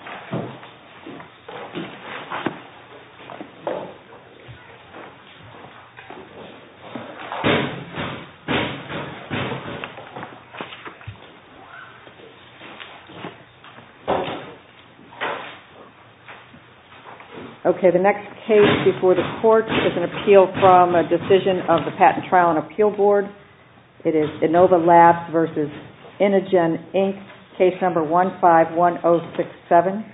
151067. This is the second case before the court. The next case before the court is an appeal from a decision of the Patent Trial and Appeal Board. It is Inova Labs v. Inogen, Inc., Case No. 151067.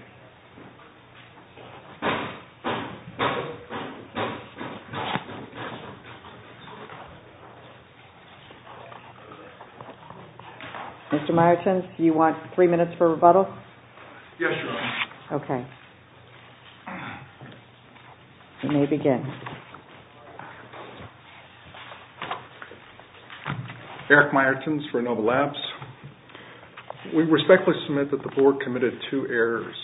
Mr. Meyertens, do you want three minutes for rebuttal? Yes, Your Honor. Okay. You may begin. Eric Meyertens for Inova Labs. We respectfully submit that the Board committed two errors.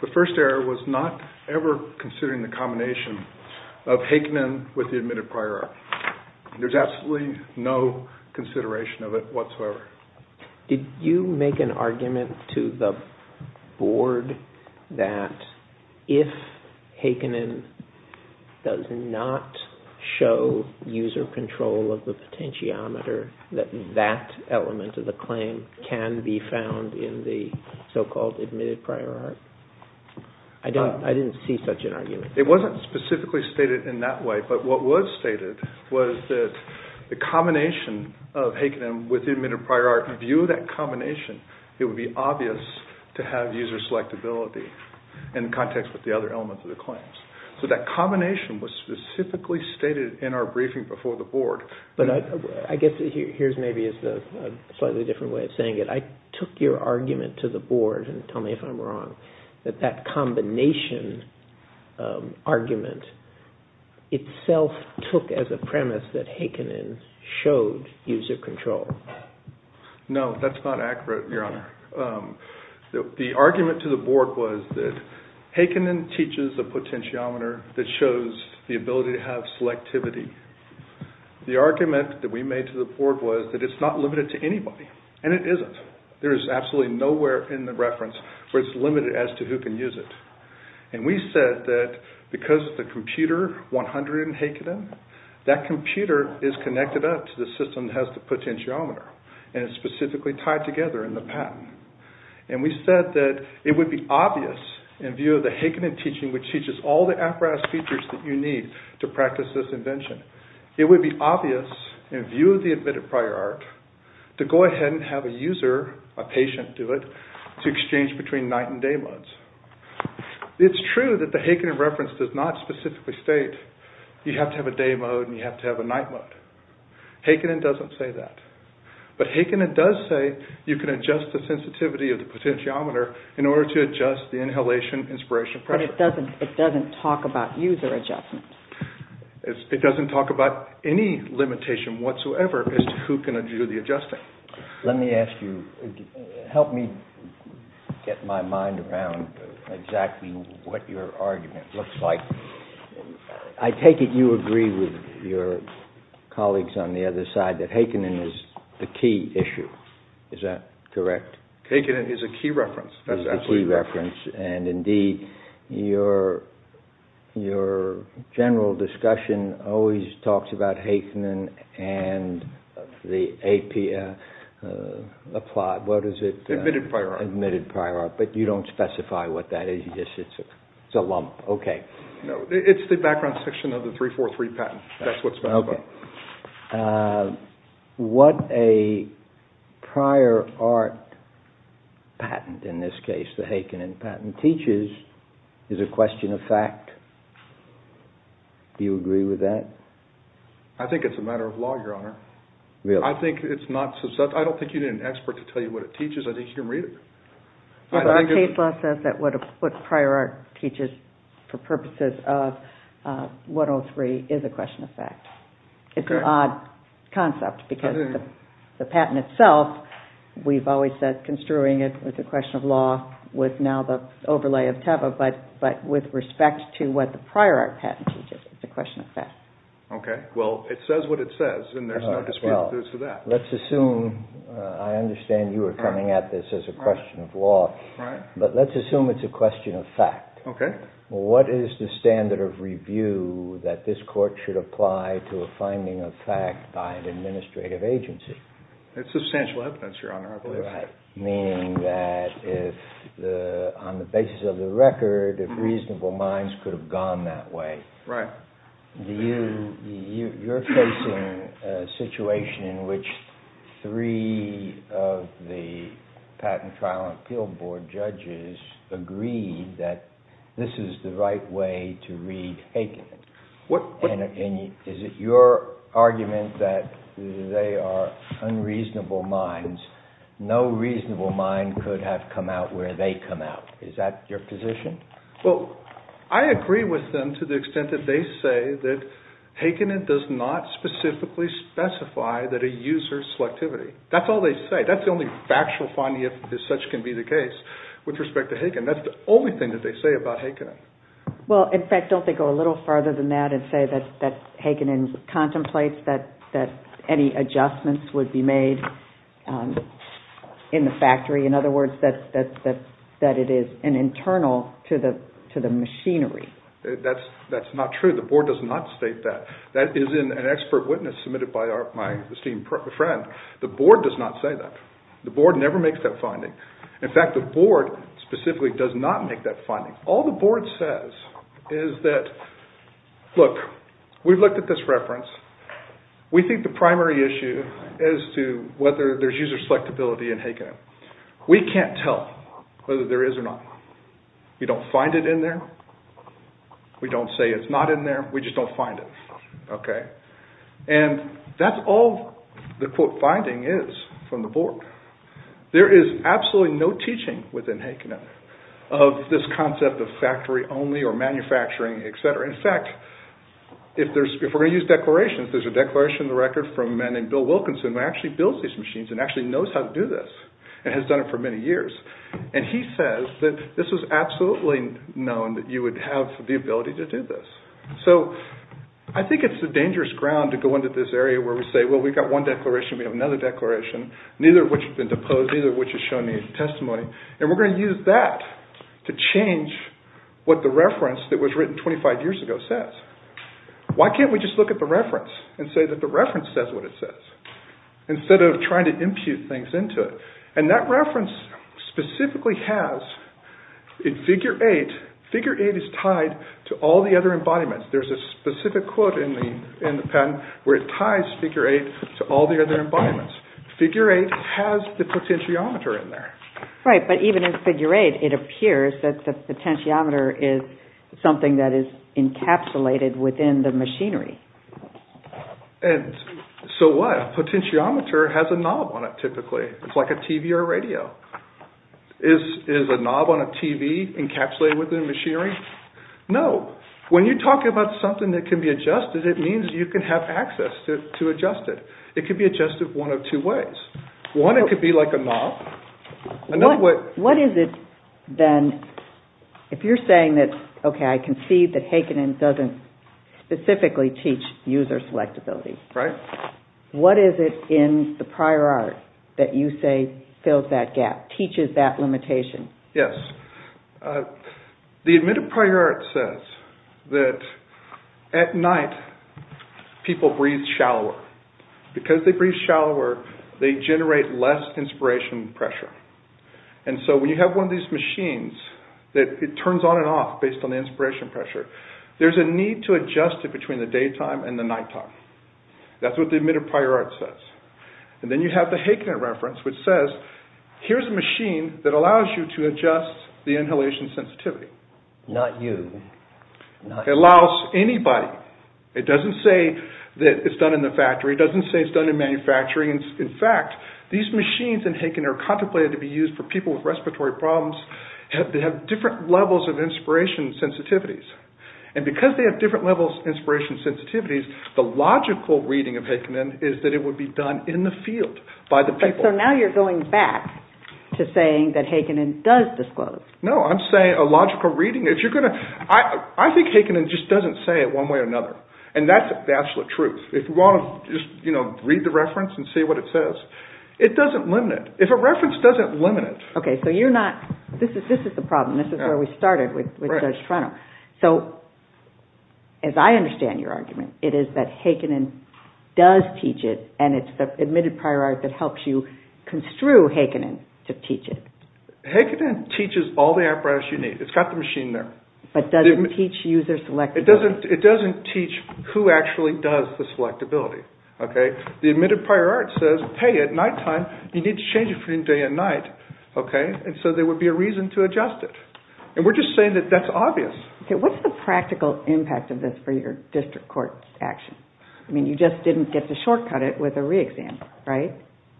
The first error was not ever considering the combination of Hakenin with the admitted prior error. There is absolutely no consideration of it whatsoever. Did you make an argument to the Board that if Hakenin does not show user control of the potentiometer, that that element of the claim can be found in the so-called admitted prior error? I didn't see such an argument. It wasn't specifically stated in that way, but what was stated was that the combination of Hakenin with the admitted prior error, in view of that combination, it would be obvious to have user selectability in context with the other elements of the claims. So that combination was specifically stated in our briefing before the Board. But I guess here's maybe a slightly different way of saying it. I took your argument to the Board, and tell me if I'm wrong, that that combination argument itself took as a premise that Hakenin showed user control. No, that's not accurate, Your Honor. The argument to the Board was that Hakenin teaches a potentiometer that shows the ability to have selectivity. The argument that we made to the Board was that it's not limited to anybody, and it isn't. There is absolutely nowhere in the reference where it's limited as to who can use it. And we said that because of the computer 100 in Hakenin, that computer is connected up to the system that has the potentiometer, and it's specifically tied together in the patent. And we said that it would be obvious, in view of the Hakenin teaching, which teaches all the apparatus features that you need to practice this invention, it would be obvious, in view of the admitted prior art, to go ahead and have a user, a patient do it, to exchange between night and day modes. It's true that the Hakenin reference does not specifically state you have to have a day mode and you have to have a night mode. Hakenin doesn't say that. But Hakenin does say you can adjust the sensitivity of the potentiometer in order to adjust the inhalation inspiration pressure. But it doesn't talk about user adjustment. It doesn't talk about any limitation whatsoever as to who can do the adjusting. Let me ask you, help me get my mind around exactly what your argument looks like. I take it you agree with your colleagues on the other side that Hakenin is the key issue. Is that correct? Hakenin is a key reference. And, indeed, your general discussion always talks about Hakenin and the AP applied, what is it? Admitted prior art. Admitted prior art. But you don't specify what that is. It's a lump. Okay. No, it's the background section of the 343 patent. That's what it's about. What a prior art patent, in this case, the Hakenin patent, teaches is a question of fact. Do you agree with that? I think it's a matter of law, Your Honor. Really? I don't think you need an expert to tell you what it teaches. I think you can read it. Our case law says that what prior art teaches for purposes of 103 is a question of fact. It's an odd concept because the patent itself, we've always said construing it with a question of law was now the overlay of TEVA, but with respect to what the prior art patent teaches, it's a question of fact. Okay. Well, it says what it says, and there's no dispute with that. Let's assume, I understand you are coming at this as a question of law, but let's assume it's a question of fact. Okay. What is the standard of review that this court should apply to a finding of fact by an administrative agency? It's substantial evidence, Your Honor, I believe. Right. Meaning that on the basis of the record, if reasonable minds could have gone that way. Right. You're facing a situation in which three of the patent trial and appeal board judges agreed that this is the right way to read Hagen. And is it your argument that they are unreasonable minds? No reasonable mind could have come out where they come out. Is that your position? Well, I agree with them to the extent that they say that Hagen does not specifically specify that a user's selectivity. That's all they say. That's the only factual finding, if such can be the case, with respect to Hagen. That's the only thing that they say about Hagen. Well, in fact, don't they go a little farther than that and say that Hagen contemplates that any adjustments would be made in the factory? In other words, that it is an internal to the machinery. That's not true. The board does not state that. That is an expert witness submitted by my esteemed friend. The board does not say that. The board never makes that finding. In fact, the board specifically does not make that finding. All the board says is that, look, we've looked at this reference. We think the primary issue is to whether there's user selectability in Hagen. We can't tell whether there is or not. We don't find it in there. We don't say it's not in there. We just don't find it. And that's all the quote finding is from the board. There is absolutely no teaching within Hagen of this concept of factory only or manufacturing, etc. In fact, if we're going to use declarations, there's a declaration in the record from a man named Bill Wilkinson who actually builds these machines and actually knows how to do this and has done it for many years. And he says that this was absolutely known that you would have the ability to do this. So I think it's a dangerous ground to go into this area where we say, well, we've got one declaration. We have another declaration, neither of which has been deposed, neither of which has shown any testimony. And we're going to use that to change what the reference that was written 25 years ago says. Why can't we just look at the reference and say that the reference says what it says instead of trying to impute things into it? And that reference specifically has, in Figure 8, Figure 8 is tied to all the other embodiments. There's a specific quote in the patent where it ties Figure 8 to all the other embodiments. Figure 8 has the potentiometer in there. Right, but even in Figure 8, it appears that the potentiometer is something that is encapsulated within the machinery. And so what? A potentiometer has a knob on it typically. It's like a TV or a radio. Is a knob on a TV encapsulated within machinery? No. When you talk about something that can be adjusted, it means you can have access to adjust it. It can be adjusted one of two ways. One, it could be like a knob. What is it then, if you're saying that, okay, I can see that Hakenan doesn't specifically teach user selectability. What is it in the prior art that you say fills that gap, teaches that limitation? Yes. The admitted prior art says that at night, people breathe shallower. Because they breathe shallower, they generate less inspiration pressure. And so when you have one of these machines that it turns on and off based on the inspiration pressure, there's a need to adjust it between the daytime and the nighttime. That's what the admitted prior art says. And then you have the Hakenan reference which says, here's a machine that allows you to adjust the inhalation sensitivity. Not you. It allows anybody. It doesn't say that it's done in the factory. It doesn't say it's done in manufacturing. In fact, these machines in Hakenan are contemplated to be used for people with respiratory problems that have different levels of inspiration sensitivities. And because they have different levels of inspiration sensitivities, the logical reading of Hakenan is that it would be done in the field by the people. So now you're going back to saying that Hakenan does disclose. No. I'm saying a logical reading. I think Hakenan just doesn't say it one way or another. And that's the absolute truth. If you want to just read the reference and see what it says, it doesn't limit it. If a reference doesn't limit it. Okay. So you're not – this is the problem. This is where we started with Judge Trenum. So as I understand your argument, it is that Hakenan does teach it and it's the admitted prior art that helps you construe Hakenan to teach it. Hakenan teaches all the apparatus you need. It's got the machine there. But doesn't teach user selectability. It doesn't teach who actually does the selectability. The admitted prior art says, hey, at nighttime, you need to change it from day to night. And so there would be a reason to adjust it. And we're just saying that that's obvious. Okay. What's the practical impact of this for your district court action? I mean, you just didn't get to shortcut it with a re-exam, right?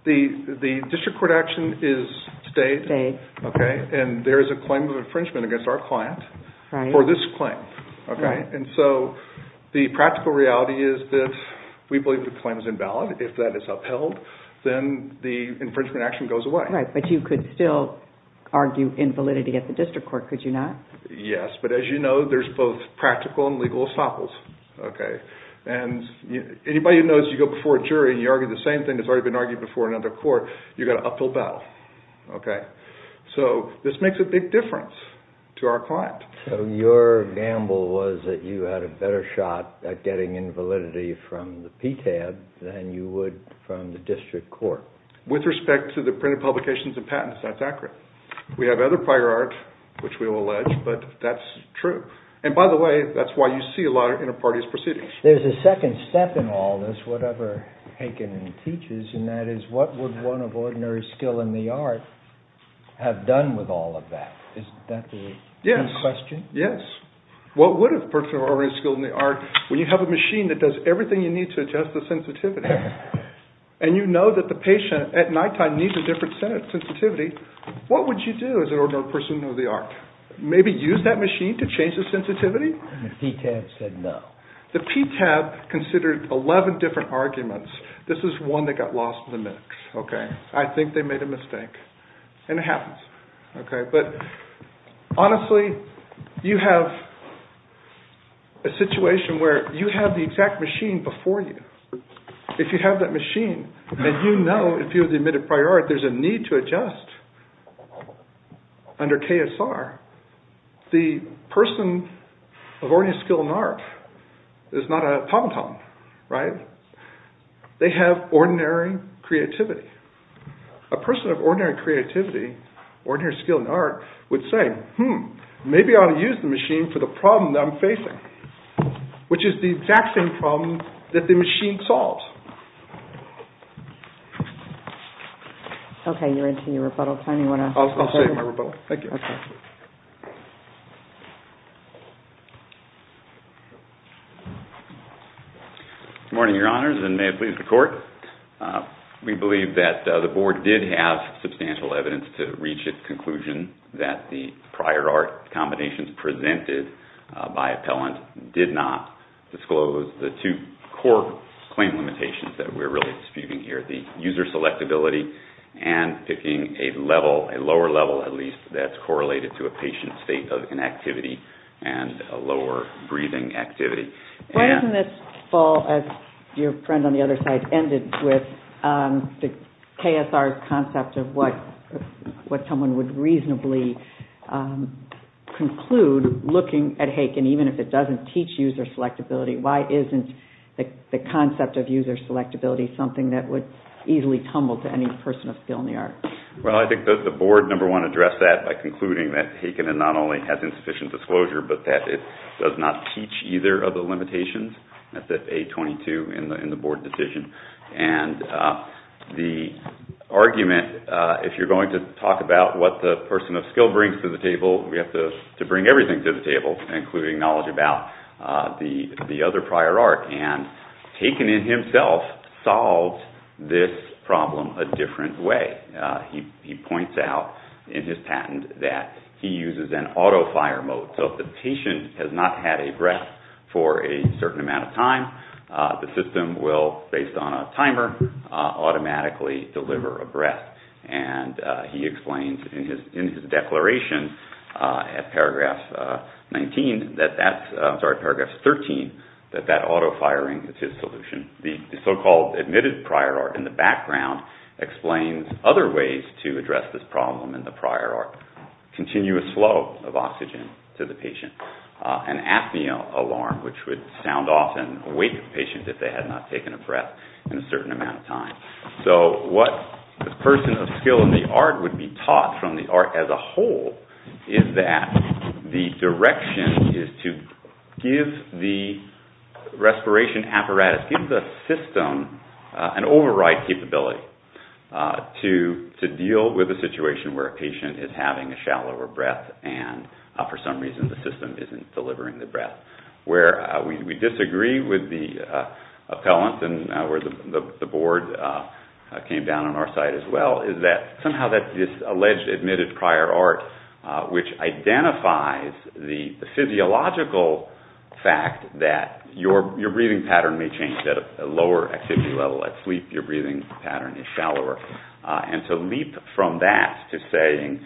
The district court action is stayed. Okay. And there is a claim of infringement against our client for this claim. And so the practical reality is that we believe the claim is invalid. If that is upheld, then the infringement action goes away. Right. But you could still argue invalidity at the district court, could you not? Yes. But as you know, there's both practical and legal obstacles. And anybody who knows, you go before a jury and you argue the same thing that's already been argued before in another court, you've got an uphill battle. So this makes a big difference to our client. So your gamble was that you had a better shot at getting invalidity from the PTAB than you would from the district court. With respect to the printed publications and patents, that's accurate. We have other prior art, which we will allege, but that's true. And by the way, that's why you see a lot of inter-parties proceedings. There's a second step in all this, whatever Haken teaches, and that is what would one of ordinary skill in the art have done with all of that? Is that the question? Yes. What would a person of ordinary skill in the art, when you have a machine that does everything you need to adjust the sensitivity, and you know that the patient at nighttime needs a different sensitivity, what would you do as an ordinary person of the art? Maybe use that machine to change the sensitivity? The PTAB said no. The PTAB considered 11 different arguments. This is one that got lost in the mix. I think they made a mistake, and it happens. Honestly, you have a situation where you have the exact machine before you. If you have that machine, and you know, if you have the admitted prior art, there's a need to adjust under KSR. The person of ordinary skill in the art is not a pom-pom. They have ordinary creativity. A person of ordinary creativity, ordinary skill in the art, would say, hmm, maybe I'll use the machine for the problem that I'm facing, which is the exact same problem that the machine solves. Okay, you're into your rebuttal time. I'll say my rebuttal. Thank you. Good morning, Your Honors, and may it please the Court. We believe that the Board did have substantial evidence to reach a conclusion that the prior art combinations presented by appellant did not disclose the two core claim limitations that we're really disputing here, the user selectability and picking a level, a lower level at least, that's correlated to a patient's state of inactivity and a lower breathing activity. Why doesn't this fall, as your friend on the other side ended with, the KSR concept of what someone would reasonably conclude looking at Haken even if it doesn't teach user selectability? Why isn't the concept of user selectability something that would easily tumble to any person of skill in the art? Well, I think that the Board, number one, addressed that by concluding that Haken not only has insufficient disclosure, but that it does not teach either of the limitations. That's at page 22 in the Board decision. And the argument, if you're going to talk about what the person of skill brings to the table, we have to bring everything to the table, including knowledge about the other prior art. And Haken in himself solves this problem a different way. He points out in his patent that he uses an auto-fire mode. So if the patient has not had a breath for a certain amount of time, the system will, based on a timer, automatically deliver a breath. And he explains in his declaration at paragraph 13 that that auto-firing is his solution. The so-called admitted prior art in the background explains other ways to address this problem than the prior art. Continuous flow of oxygen to the patient. An apnea alarm, which would sound off and wake the patient if they had not taken a breath in a certain amount of time. So what the person of skill in the art would be taught from the art as a whole is that the direction is to give the respiration apparatus, give the system an override capability to deal with a situation where a patient is having a shallower breath and for some reason the system isn't delivering the breath. Where we disagree with the appellant and where the board came down on our side as well is that somehow that alleged admitted prior art, which identifies the physiological fact that your breathing pattern may change at a lower activity level. At sleep your breathing pattern is shallower. And to leap from that to saying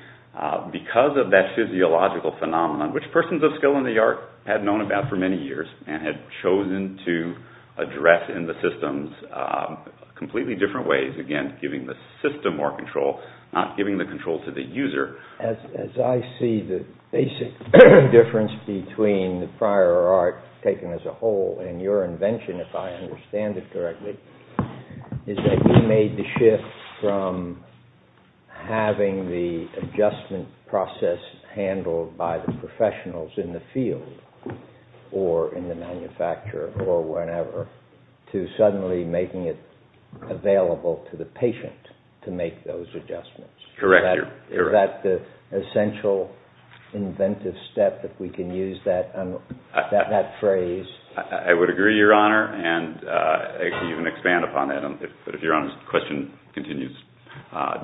because of that physiological phenomenon, which persons of skill in the art had known about for many years and had chosen to address in the systems completely different ways, again giving the system more control, not giving the control to the user. As I see the basic difference between the prior art taken as a whole and your invention, if I understand it correctly, is that you made the shift from having the adjustment process handled by the professionals in the field or in the manufacturer or whenever to suddenly making it available to the patient to make those adjustments. Correct. Is that the essential inventive step, if we can use that phrase? I would agree, Your Honor, and even expand upon that. If Your Honor's question continues,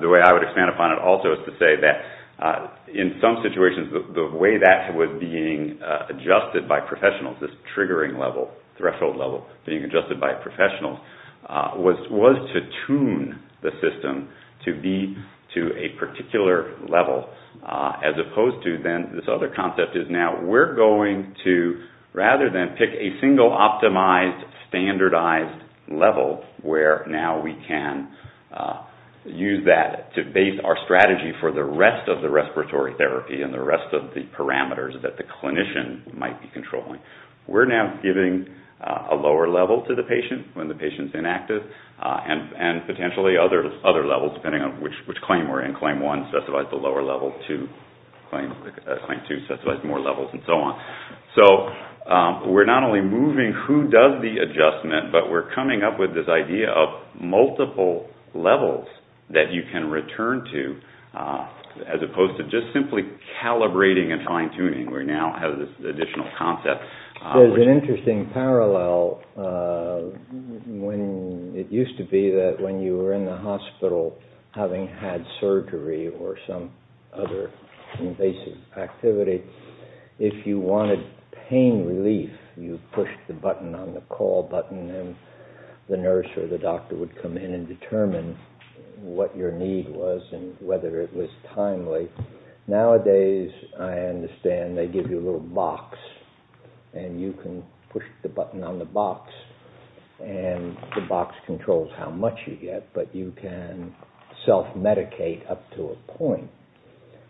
the way I would expand upon it also is to say that in some situations the way that was being adjusted by professionals, this triggering level, threshold level being adjusted by professionals, was to tune the system to be to a particular level as opposed to then this other concept is now we're going to, rather than pick a single optimized, standardized level where now we can use that to base our strategy for the rest of the respiratory therapy and the rest of the parameters that the clinician might be controlling. We're now giving a lower level to the patient when the patient's inactive and potentially other levels depending on which claim we're in. Claim 1 specifies the lower level. Claim 2 specifies more levels and so on. So we're not only moving who does the adjustment, but we're coming up with this idea of multiple levels that you can return to as opposed to just simply calibrating and fine-tuning. We now have this additional concept. There's an interesting parallel. It used to be that when you were in the hospital having had surgery or some other invasive activity, if you wanted pain relief, you pushed the button on the call button and the nurse or the doctor would come in and determine what your need was and whether it was timely. Nowadays, I understand they give you a little box and you can push the button on the box and the box controls how much you get, but you can self-medicate up to a point,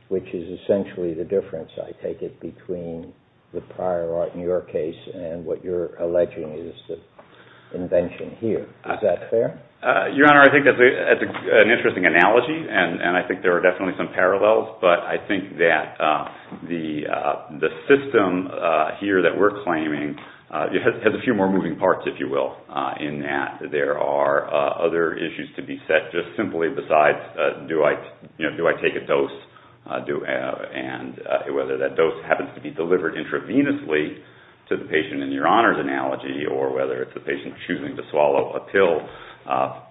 which is essentially the difference, I take it, between the prior art in your case and what you're alleging is the invention here. Is that fair? Your Honor, I think that's an interesting analogy and I think there are definitely some parallels, but I think that the system here that we're claiming has a few more moving parts, if you will, in that there are other issues to be set, just simply besides do I take a dose and whether that dose happens to be delivered intravenously to the patient in your Honor's analogy or whether it's the patient choosing to swallow a pill,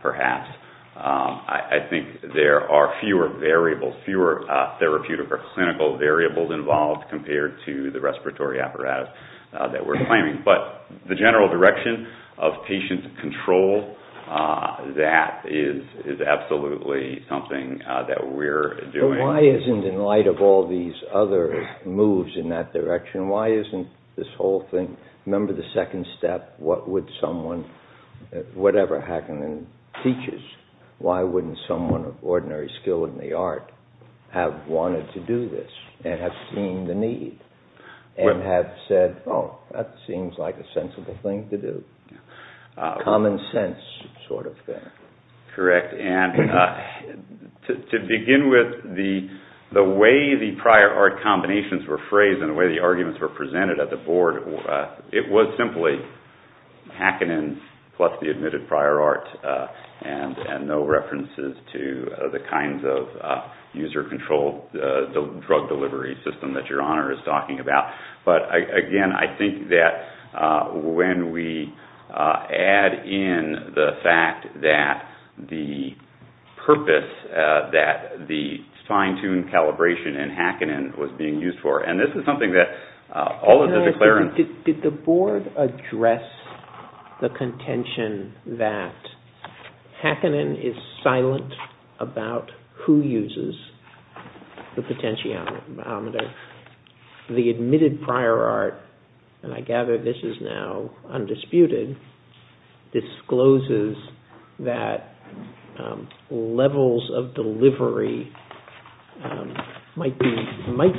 perhaps. I think there are fewer variables, fewer therapeutic or clinical variables involved compared to the respiratory apparatus that we're claiming, but the general direction of patient control, that is absolutely something that we're doing. But why isn't, in light of all these other moves in that direction, why isn't this whole thing, remember the second step, whatever Hackenden teaches, why wouldn't someone of ordinary skill in the art have wanted to do this and have seen the need and have said, oh, that seems like a sensible thing to do. Common sense sort of thing. Correct. And to begin with, the way the prior art combinations were phrased and the way the arguments were presented at the Board, it was simply Hackenden plus the admitted prior art and no references to the kinds of user-controlled drug delivery system that your Honor is talking about. But again, I think that when we add in the fact that the purpose, that the fine-tuned calibration in Hackenden was being used for, and this is something that all of the declarants. Did the Board address the contention that Hackenden is silent about who uses the potentiometer? The admitted prior art, and I gather this is now undisputed, discloses that levels of delivery might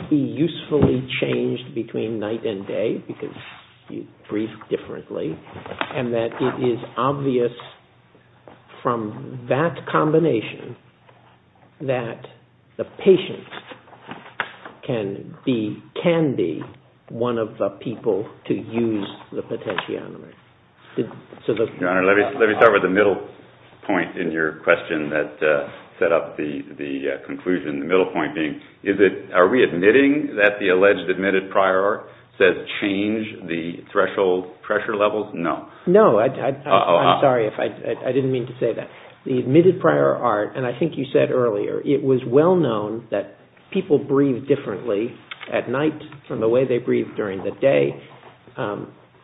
be usefully changed between night and day because you breathe differently and that it is obvious from that combination that the patient can be one of the people to use the potentiometer. Your Honor, let me start with the middle point in your question that set up the conclusion, the middle point being, are we admitting that the alleged admitted prior art says change the threshold pressure levels? No. No. I'm sorry if I didn't mean to say that. The admitted prior art, and I think you said earlier, it was well known that people breathe differently at night from the way they breathe during the day.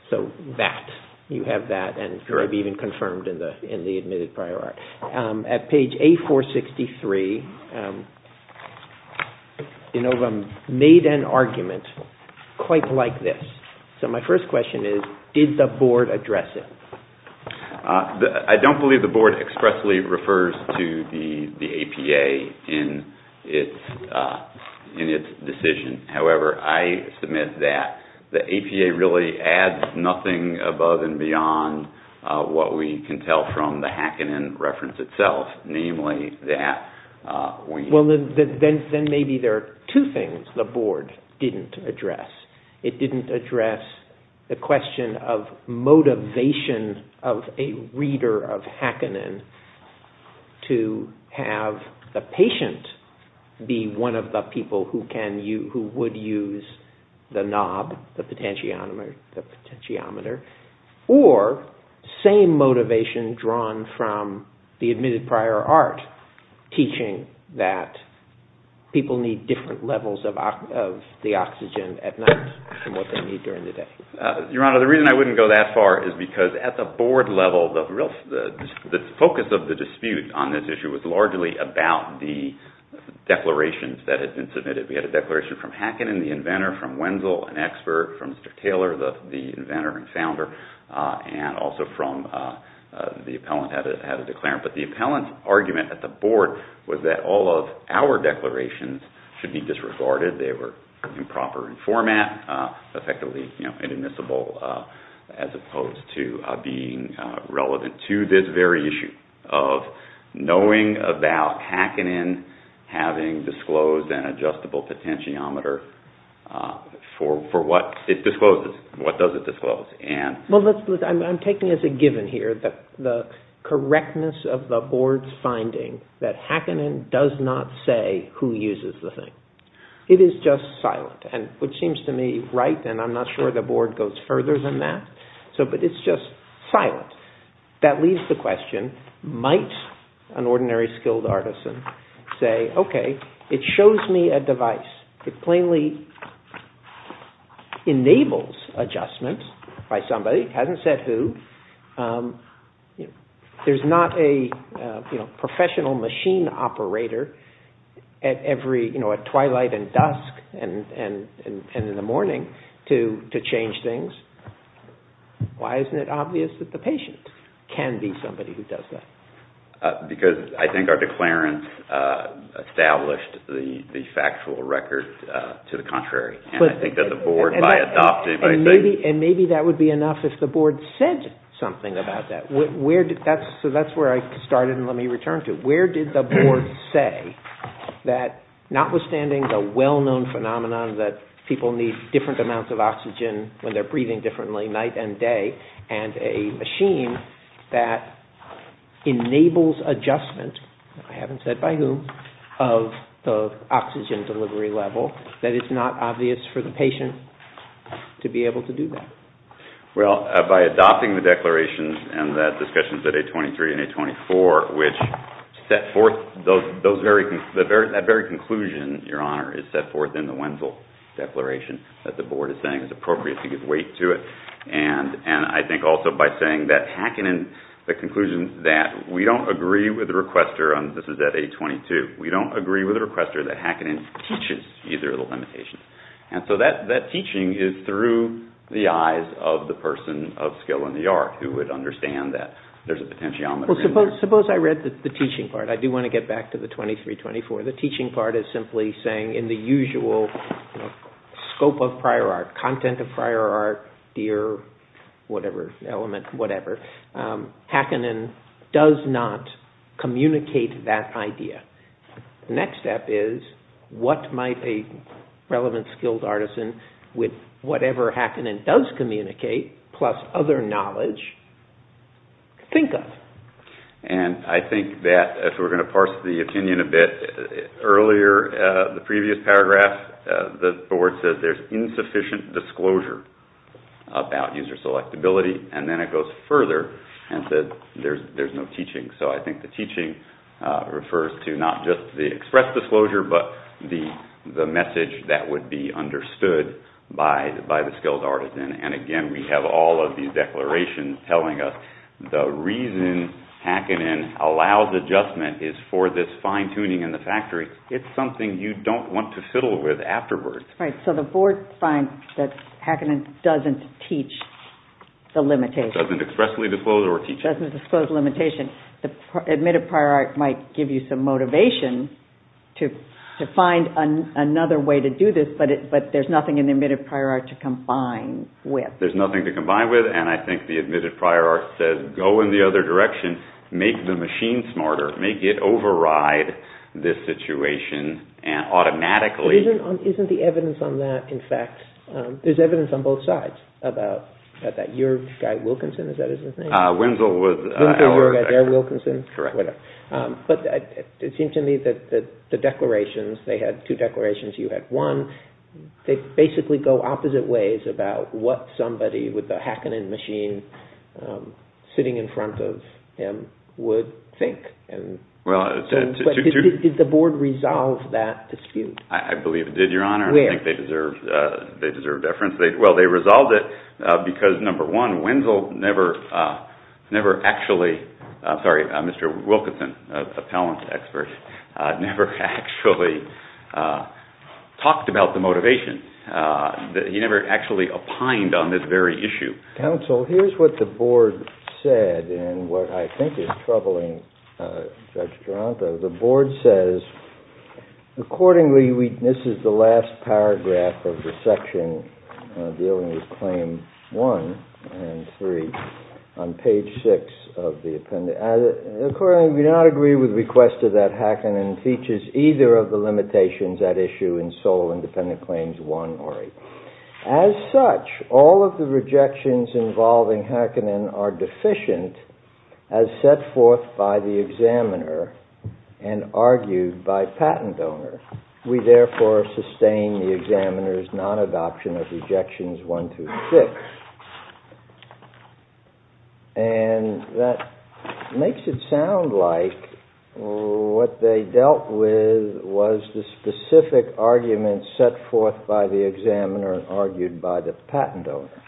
So that, you have that, and it could be even confirmed in the admitted prior art. At page A463, Inovum made an argument quite like this. So my first question is, did the Board address it? I don't believe the Board expressly refers to the APA in its decision. However, I submit that the APA really adds nothing above and beyond what we can tell from the Hackanen reference itself, namely that we... Well, then maybe there are two things the Board didn't address. It didn't address the question of motivation of a reader of Hackanen to have the patient be one of the people who would use the knob, the potentiometer, or same motivation drawn from the admitted prior art teaching that people need different levels of the oxygen at night than what they need during the day. Your Honor, the reason I wouldn't go that far is because at the Board level, the focus of the dispute on this issue was largely about the declarations that had been submitted. We had a declaration from Hackanen, the inventor, from Wenzel, an expert, from Mr. Taylor, the inventor and founder, and also from the appellant had a declarant. But the appellant's argument at the Board was that all of our declarations should be disregarded. They were improper in format, effectively inadmissible, as opposed to being relevant to this very issue of knowing about Hackanen having disclosed an adjustable potentiometer for what it discloses, what does it disclose. I'm taking as a given here the correctness of the Board's finding that Hackanen does not say who uses the thing. It is just silent, which seems to me right, and I'm not sure the Board goes further than that. But it's just silent. That leaves the question, might an ordinary skilled artisan say, okay, it shows me a device, it plainly enables adjustment by somebody, it hasn't said who. There's not a professional machine operator at twilight and dusk and in the morning to change things. Why isn't it obvious that the patient can be somebody who does that? Because I think our declarant established the factual record to the contrary. And I think that the Board, by adopting, by saying... And maybe that would be enough if the Board said something about that. So that's where I started and let me return to. Where did the Board say that notwithstanding the well-known phenomenon that people need to think differently night and day, and a machine that enables adjustment, I haven't said by whom, of the oxygen delivery level, that it's not obvious for the patient to be able to do that? Well, by adopting the declaration and the discussions at A23 and A24, which set forth that very conclusion, Your Honor, is set forth in the Wenzel Declaration that the Board is saying is appropriate to give weight to it. And I think also by saying that Hackanen, the conclusion that we don't agree with the requester, and this is at A22, we don't agree with the requester that Hackanen teaches either of the limitations. And so that teaching is through the eyes of the person of skill and the art who would understand that there's a potentiometer in there. Well, suppose I read the teaching part. I do want to get back to the 23-24. The teaching part is simply saying in the usual scope of prior art, content of prior art, deer, whatever element, whatever, Hackanen does not communicate that idea. The next step is, what might a relevant skilled artisan with whatever Hackanen does communicate, plus other knowledge, think of? And I think that, if we're going to parse the opinion a bit, earlier, the previous paragraph, the board said, there's insufficient disclosure about user selectability. And then it goes further and said, there's no teaching. So I think the teaching refers to not just the express disclosure, but the message that would be understood by the skilled artisan. And again, we have all of these declarations telling us the reason Hackanen allows adjustment is for this fine-tuning in the factory. It's something you don't want to fiddle with afterwards. Right, so the board finds that Hackanen doesn't teach the limitation. Doesn't expressly disclose or teach it. Doesn't disclose the limitation. The admitted prior art might give you some motivation to find another way to do this, but there's nothing in the admitted prior art to combine with. There's nothing to combine with, and I think the admitted prior art says, go in the other direction, make the machine smarter, make it override this situation, and automatically... Isn't the evidence on that, in fact... There's evidence on both sides about that. Your guy Wilkinson, is that his name? Winslow was... Winslow, your guy there, Wilkinson? Correct. But it seems to me that the declarations, they had two declarations, you had one. They basically go opposite ways about what somebody with a Hackanen machine sitting in front of him would think. Did the board resolve that dispute? I believe it did, Your Honor. Where? I think they deserve deference. Well, they resolved it because, number one, Winslow never actually... I'm sorry, Mr. Wilkinson, a talent expert, never actually talked about the motivation. He never actually opined on this very issue. Counsel, here's what the board said in what I think is troubling Judge Taranto. The board says, accordingly, this is the last paragraph of the section dealing with Claim 1 and 3 on page 6 of the appendix. Accordingly, we do not agree with the request that Hackanen features either of the limitations at issue in sole and dependent claims 1 or 8. As such, all of the rejections involving Hackanen are deficient as set forth by the examiner and argued by patent owner. We therefore sustain the examiner's non-adoption of rejections 1 through 6. And that makes it sound like what they dealt with was the specific argument set forth by the examiner and argued by the patent owner.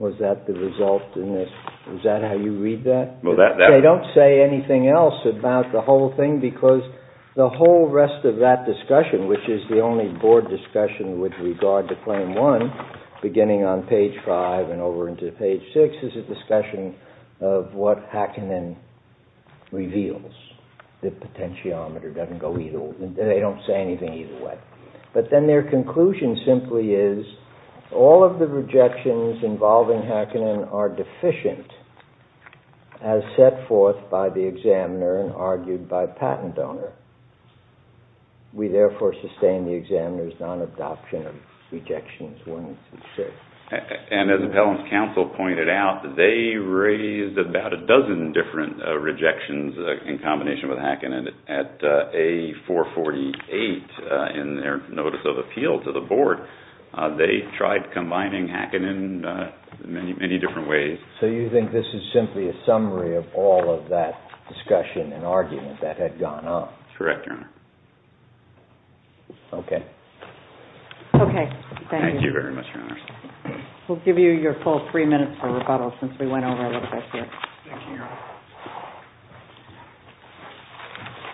Was that the result in this? Is that how you read that? They don't say anything else about the whole thing because the whole rest of that discussion, which is the only board discussion with regard to Claim 1, beginning on page 5 and over into page 6, is a discussion of what Hackanen reveals. The potentiometer doesn't go either way. They don't say anything either way. But then their conclusion simply is all of the rejections involving Hackanen are deficient as set forth by the examiner and argued by patent owner. We therefore sustain the examiner's non-adoption of rejections 1 through 6. And as Appellant's counsel pointed out, they raised about a dozen different rejections in combination with Hackanen at A448 in their notice of appeal to the board. They tried combining Hackanen in many different ways. So you think this is simply a summary of all of that discussion and argument that had gone on? Correct, Your Honor. Okay. Okay, thank you. Thank you very much, Your Honors. We'll give you your full three minutes for rebuttal since we went over a little bit here. Thank you, Your Honor.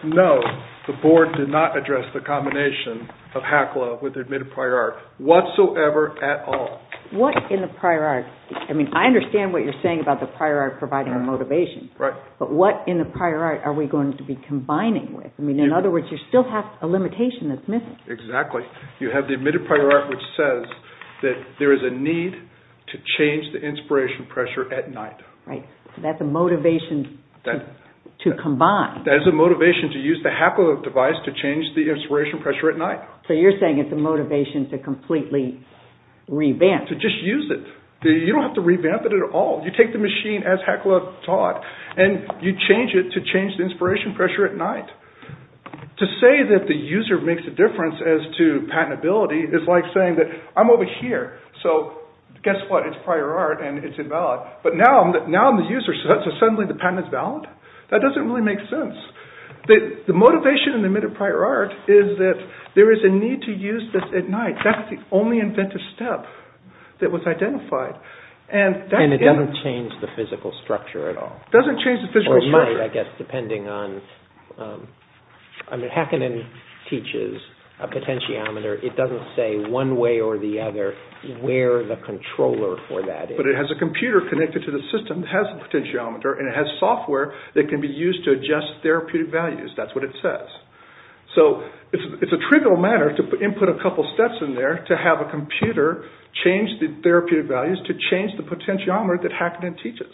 No, the board did not address the combination of HACLA with the admitted prior art whatsoever at all. What in the prior art? I mean, I understand what you're saying about the prior art providing a motivation. Right. But what in the prior art are we going to be combining with? I mean, in other words, you still have a limitation that's missing. Exactly. You have the admitted prior art which says that there is a need to change the inspiration pressure at night. Right. So that's a motivation to combine. That is a motivation to use the HACLA device to change the inspiration pressure at night. So you're saying it's a motivation to completely revamp. To just use it. You don't have to revamp it at all. You take the machine as HACLA taught and you change it to change the inspiration pressure at night. To say that the user makes a difference as to patentability is like saying that I'm over here. So guess what? It's prior art and it's invalid. But now I'm the user, so suddenly the patent is valid? That doesn't really make sense. The motivation in the admitted prior art is that there is a need to use this at night. That's the only inventive step that was identified. And it doesn't change the physical structure at all. It doesn't change the physical structure. Or might, I guess, depending on... I mean, Hackingen teaches a potentiometer. It doesn't say one way or the other where the controller for that is. But it has a computer connected to the system that has a potentiometer. And it has software that can be used to adjust therapeutic values. That's what it says. So it's a trivial matter to input a couple steps in there to have a computer change the therapeutic values to change the potentiometer that Hackingen teaches.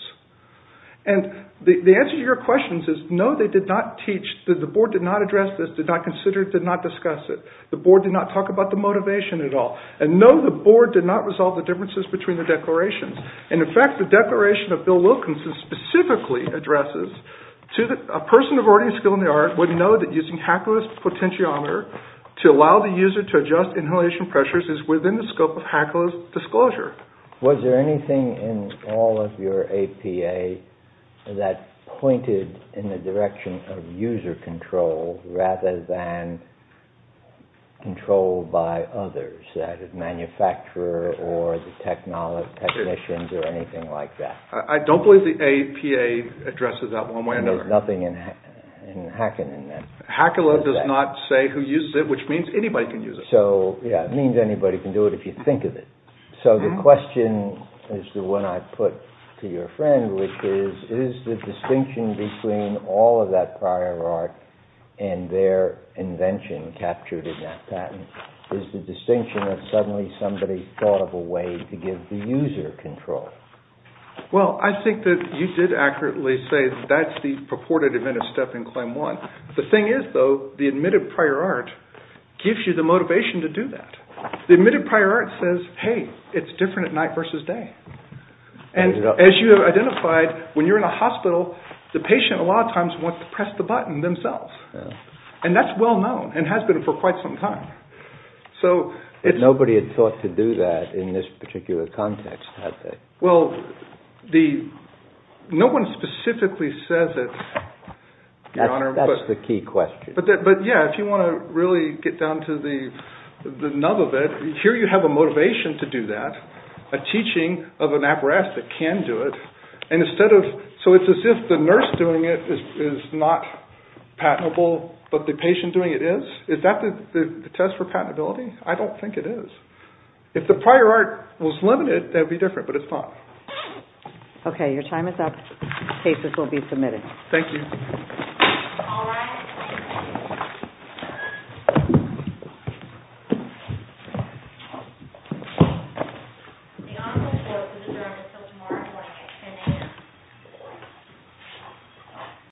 And the answer to your question is no, they did not teach. The board did not address this. Did not consider it. Did not discuss it. The board did not talk about the motivation at all. And no, the board did not resolve the differences between the declarations. And in fact, the declaration of Bill Wilkinson specifically addresses to a person of learning skill in the art would know that using Hackler's potentiometer to allow the user to adjust inhalation pressures is within the scope of Hackler's disclosure. Was there anything in all of your APA that pointed in the direction of user control rather than control by others? That is, manufacturer or the technicians or anything like that. I don't believe the APA addresses that one way or another. There's nothing in Hackingen then. Hackler does not say who uses it, which means anybody can use it. So, yeah, it means anybody can do it if you think of it. So the question is the one I put to your friend, which is, is the distinction between all of that prior art and their invention captured in that patent, is the distinction of suddenly somebody thought of a way to give the user control? Well, I think that you did accurately say that's the purported adventist step in claim one. The thing is, though, the admitted prior art gives you the motivation to do that. The admitted prior art says, hey, it's different at night versus day. And as you have identified, when you're in a hospital, the patient a lot of times wants to press the button themselves. And that's well known and has been for quite some time. But nobody had thought to do that in this particular context, had they? Well, no one specifically says it, Your Honor. That's the key question. But, yeah, if you want to really get down to the nub of it, here you have a motivation to do that, a teaching of an apparatus that can do it. So it's as if the nurse doing it is not patentable, but the patient doing it is? Is that the test for patentability? I don't think it is. If the prior art was limited, that would be different. But it's not. OK. Your time is up. Cases will be submitted. Thank you. All rise. Thank you. The office will open until tomorrow morning at 10 a.m.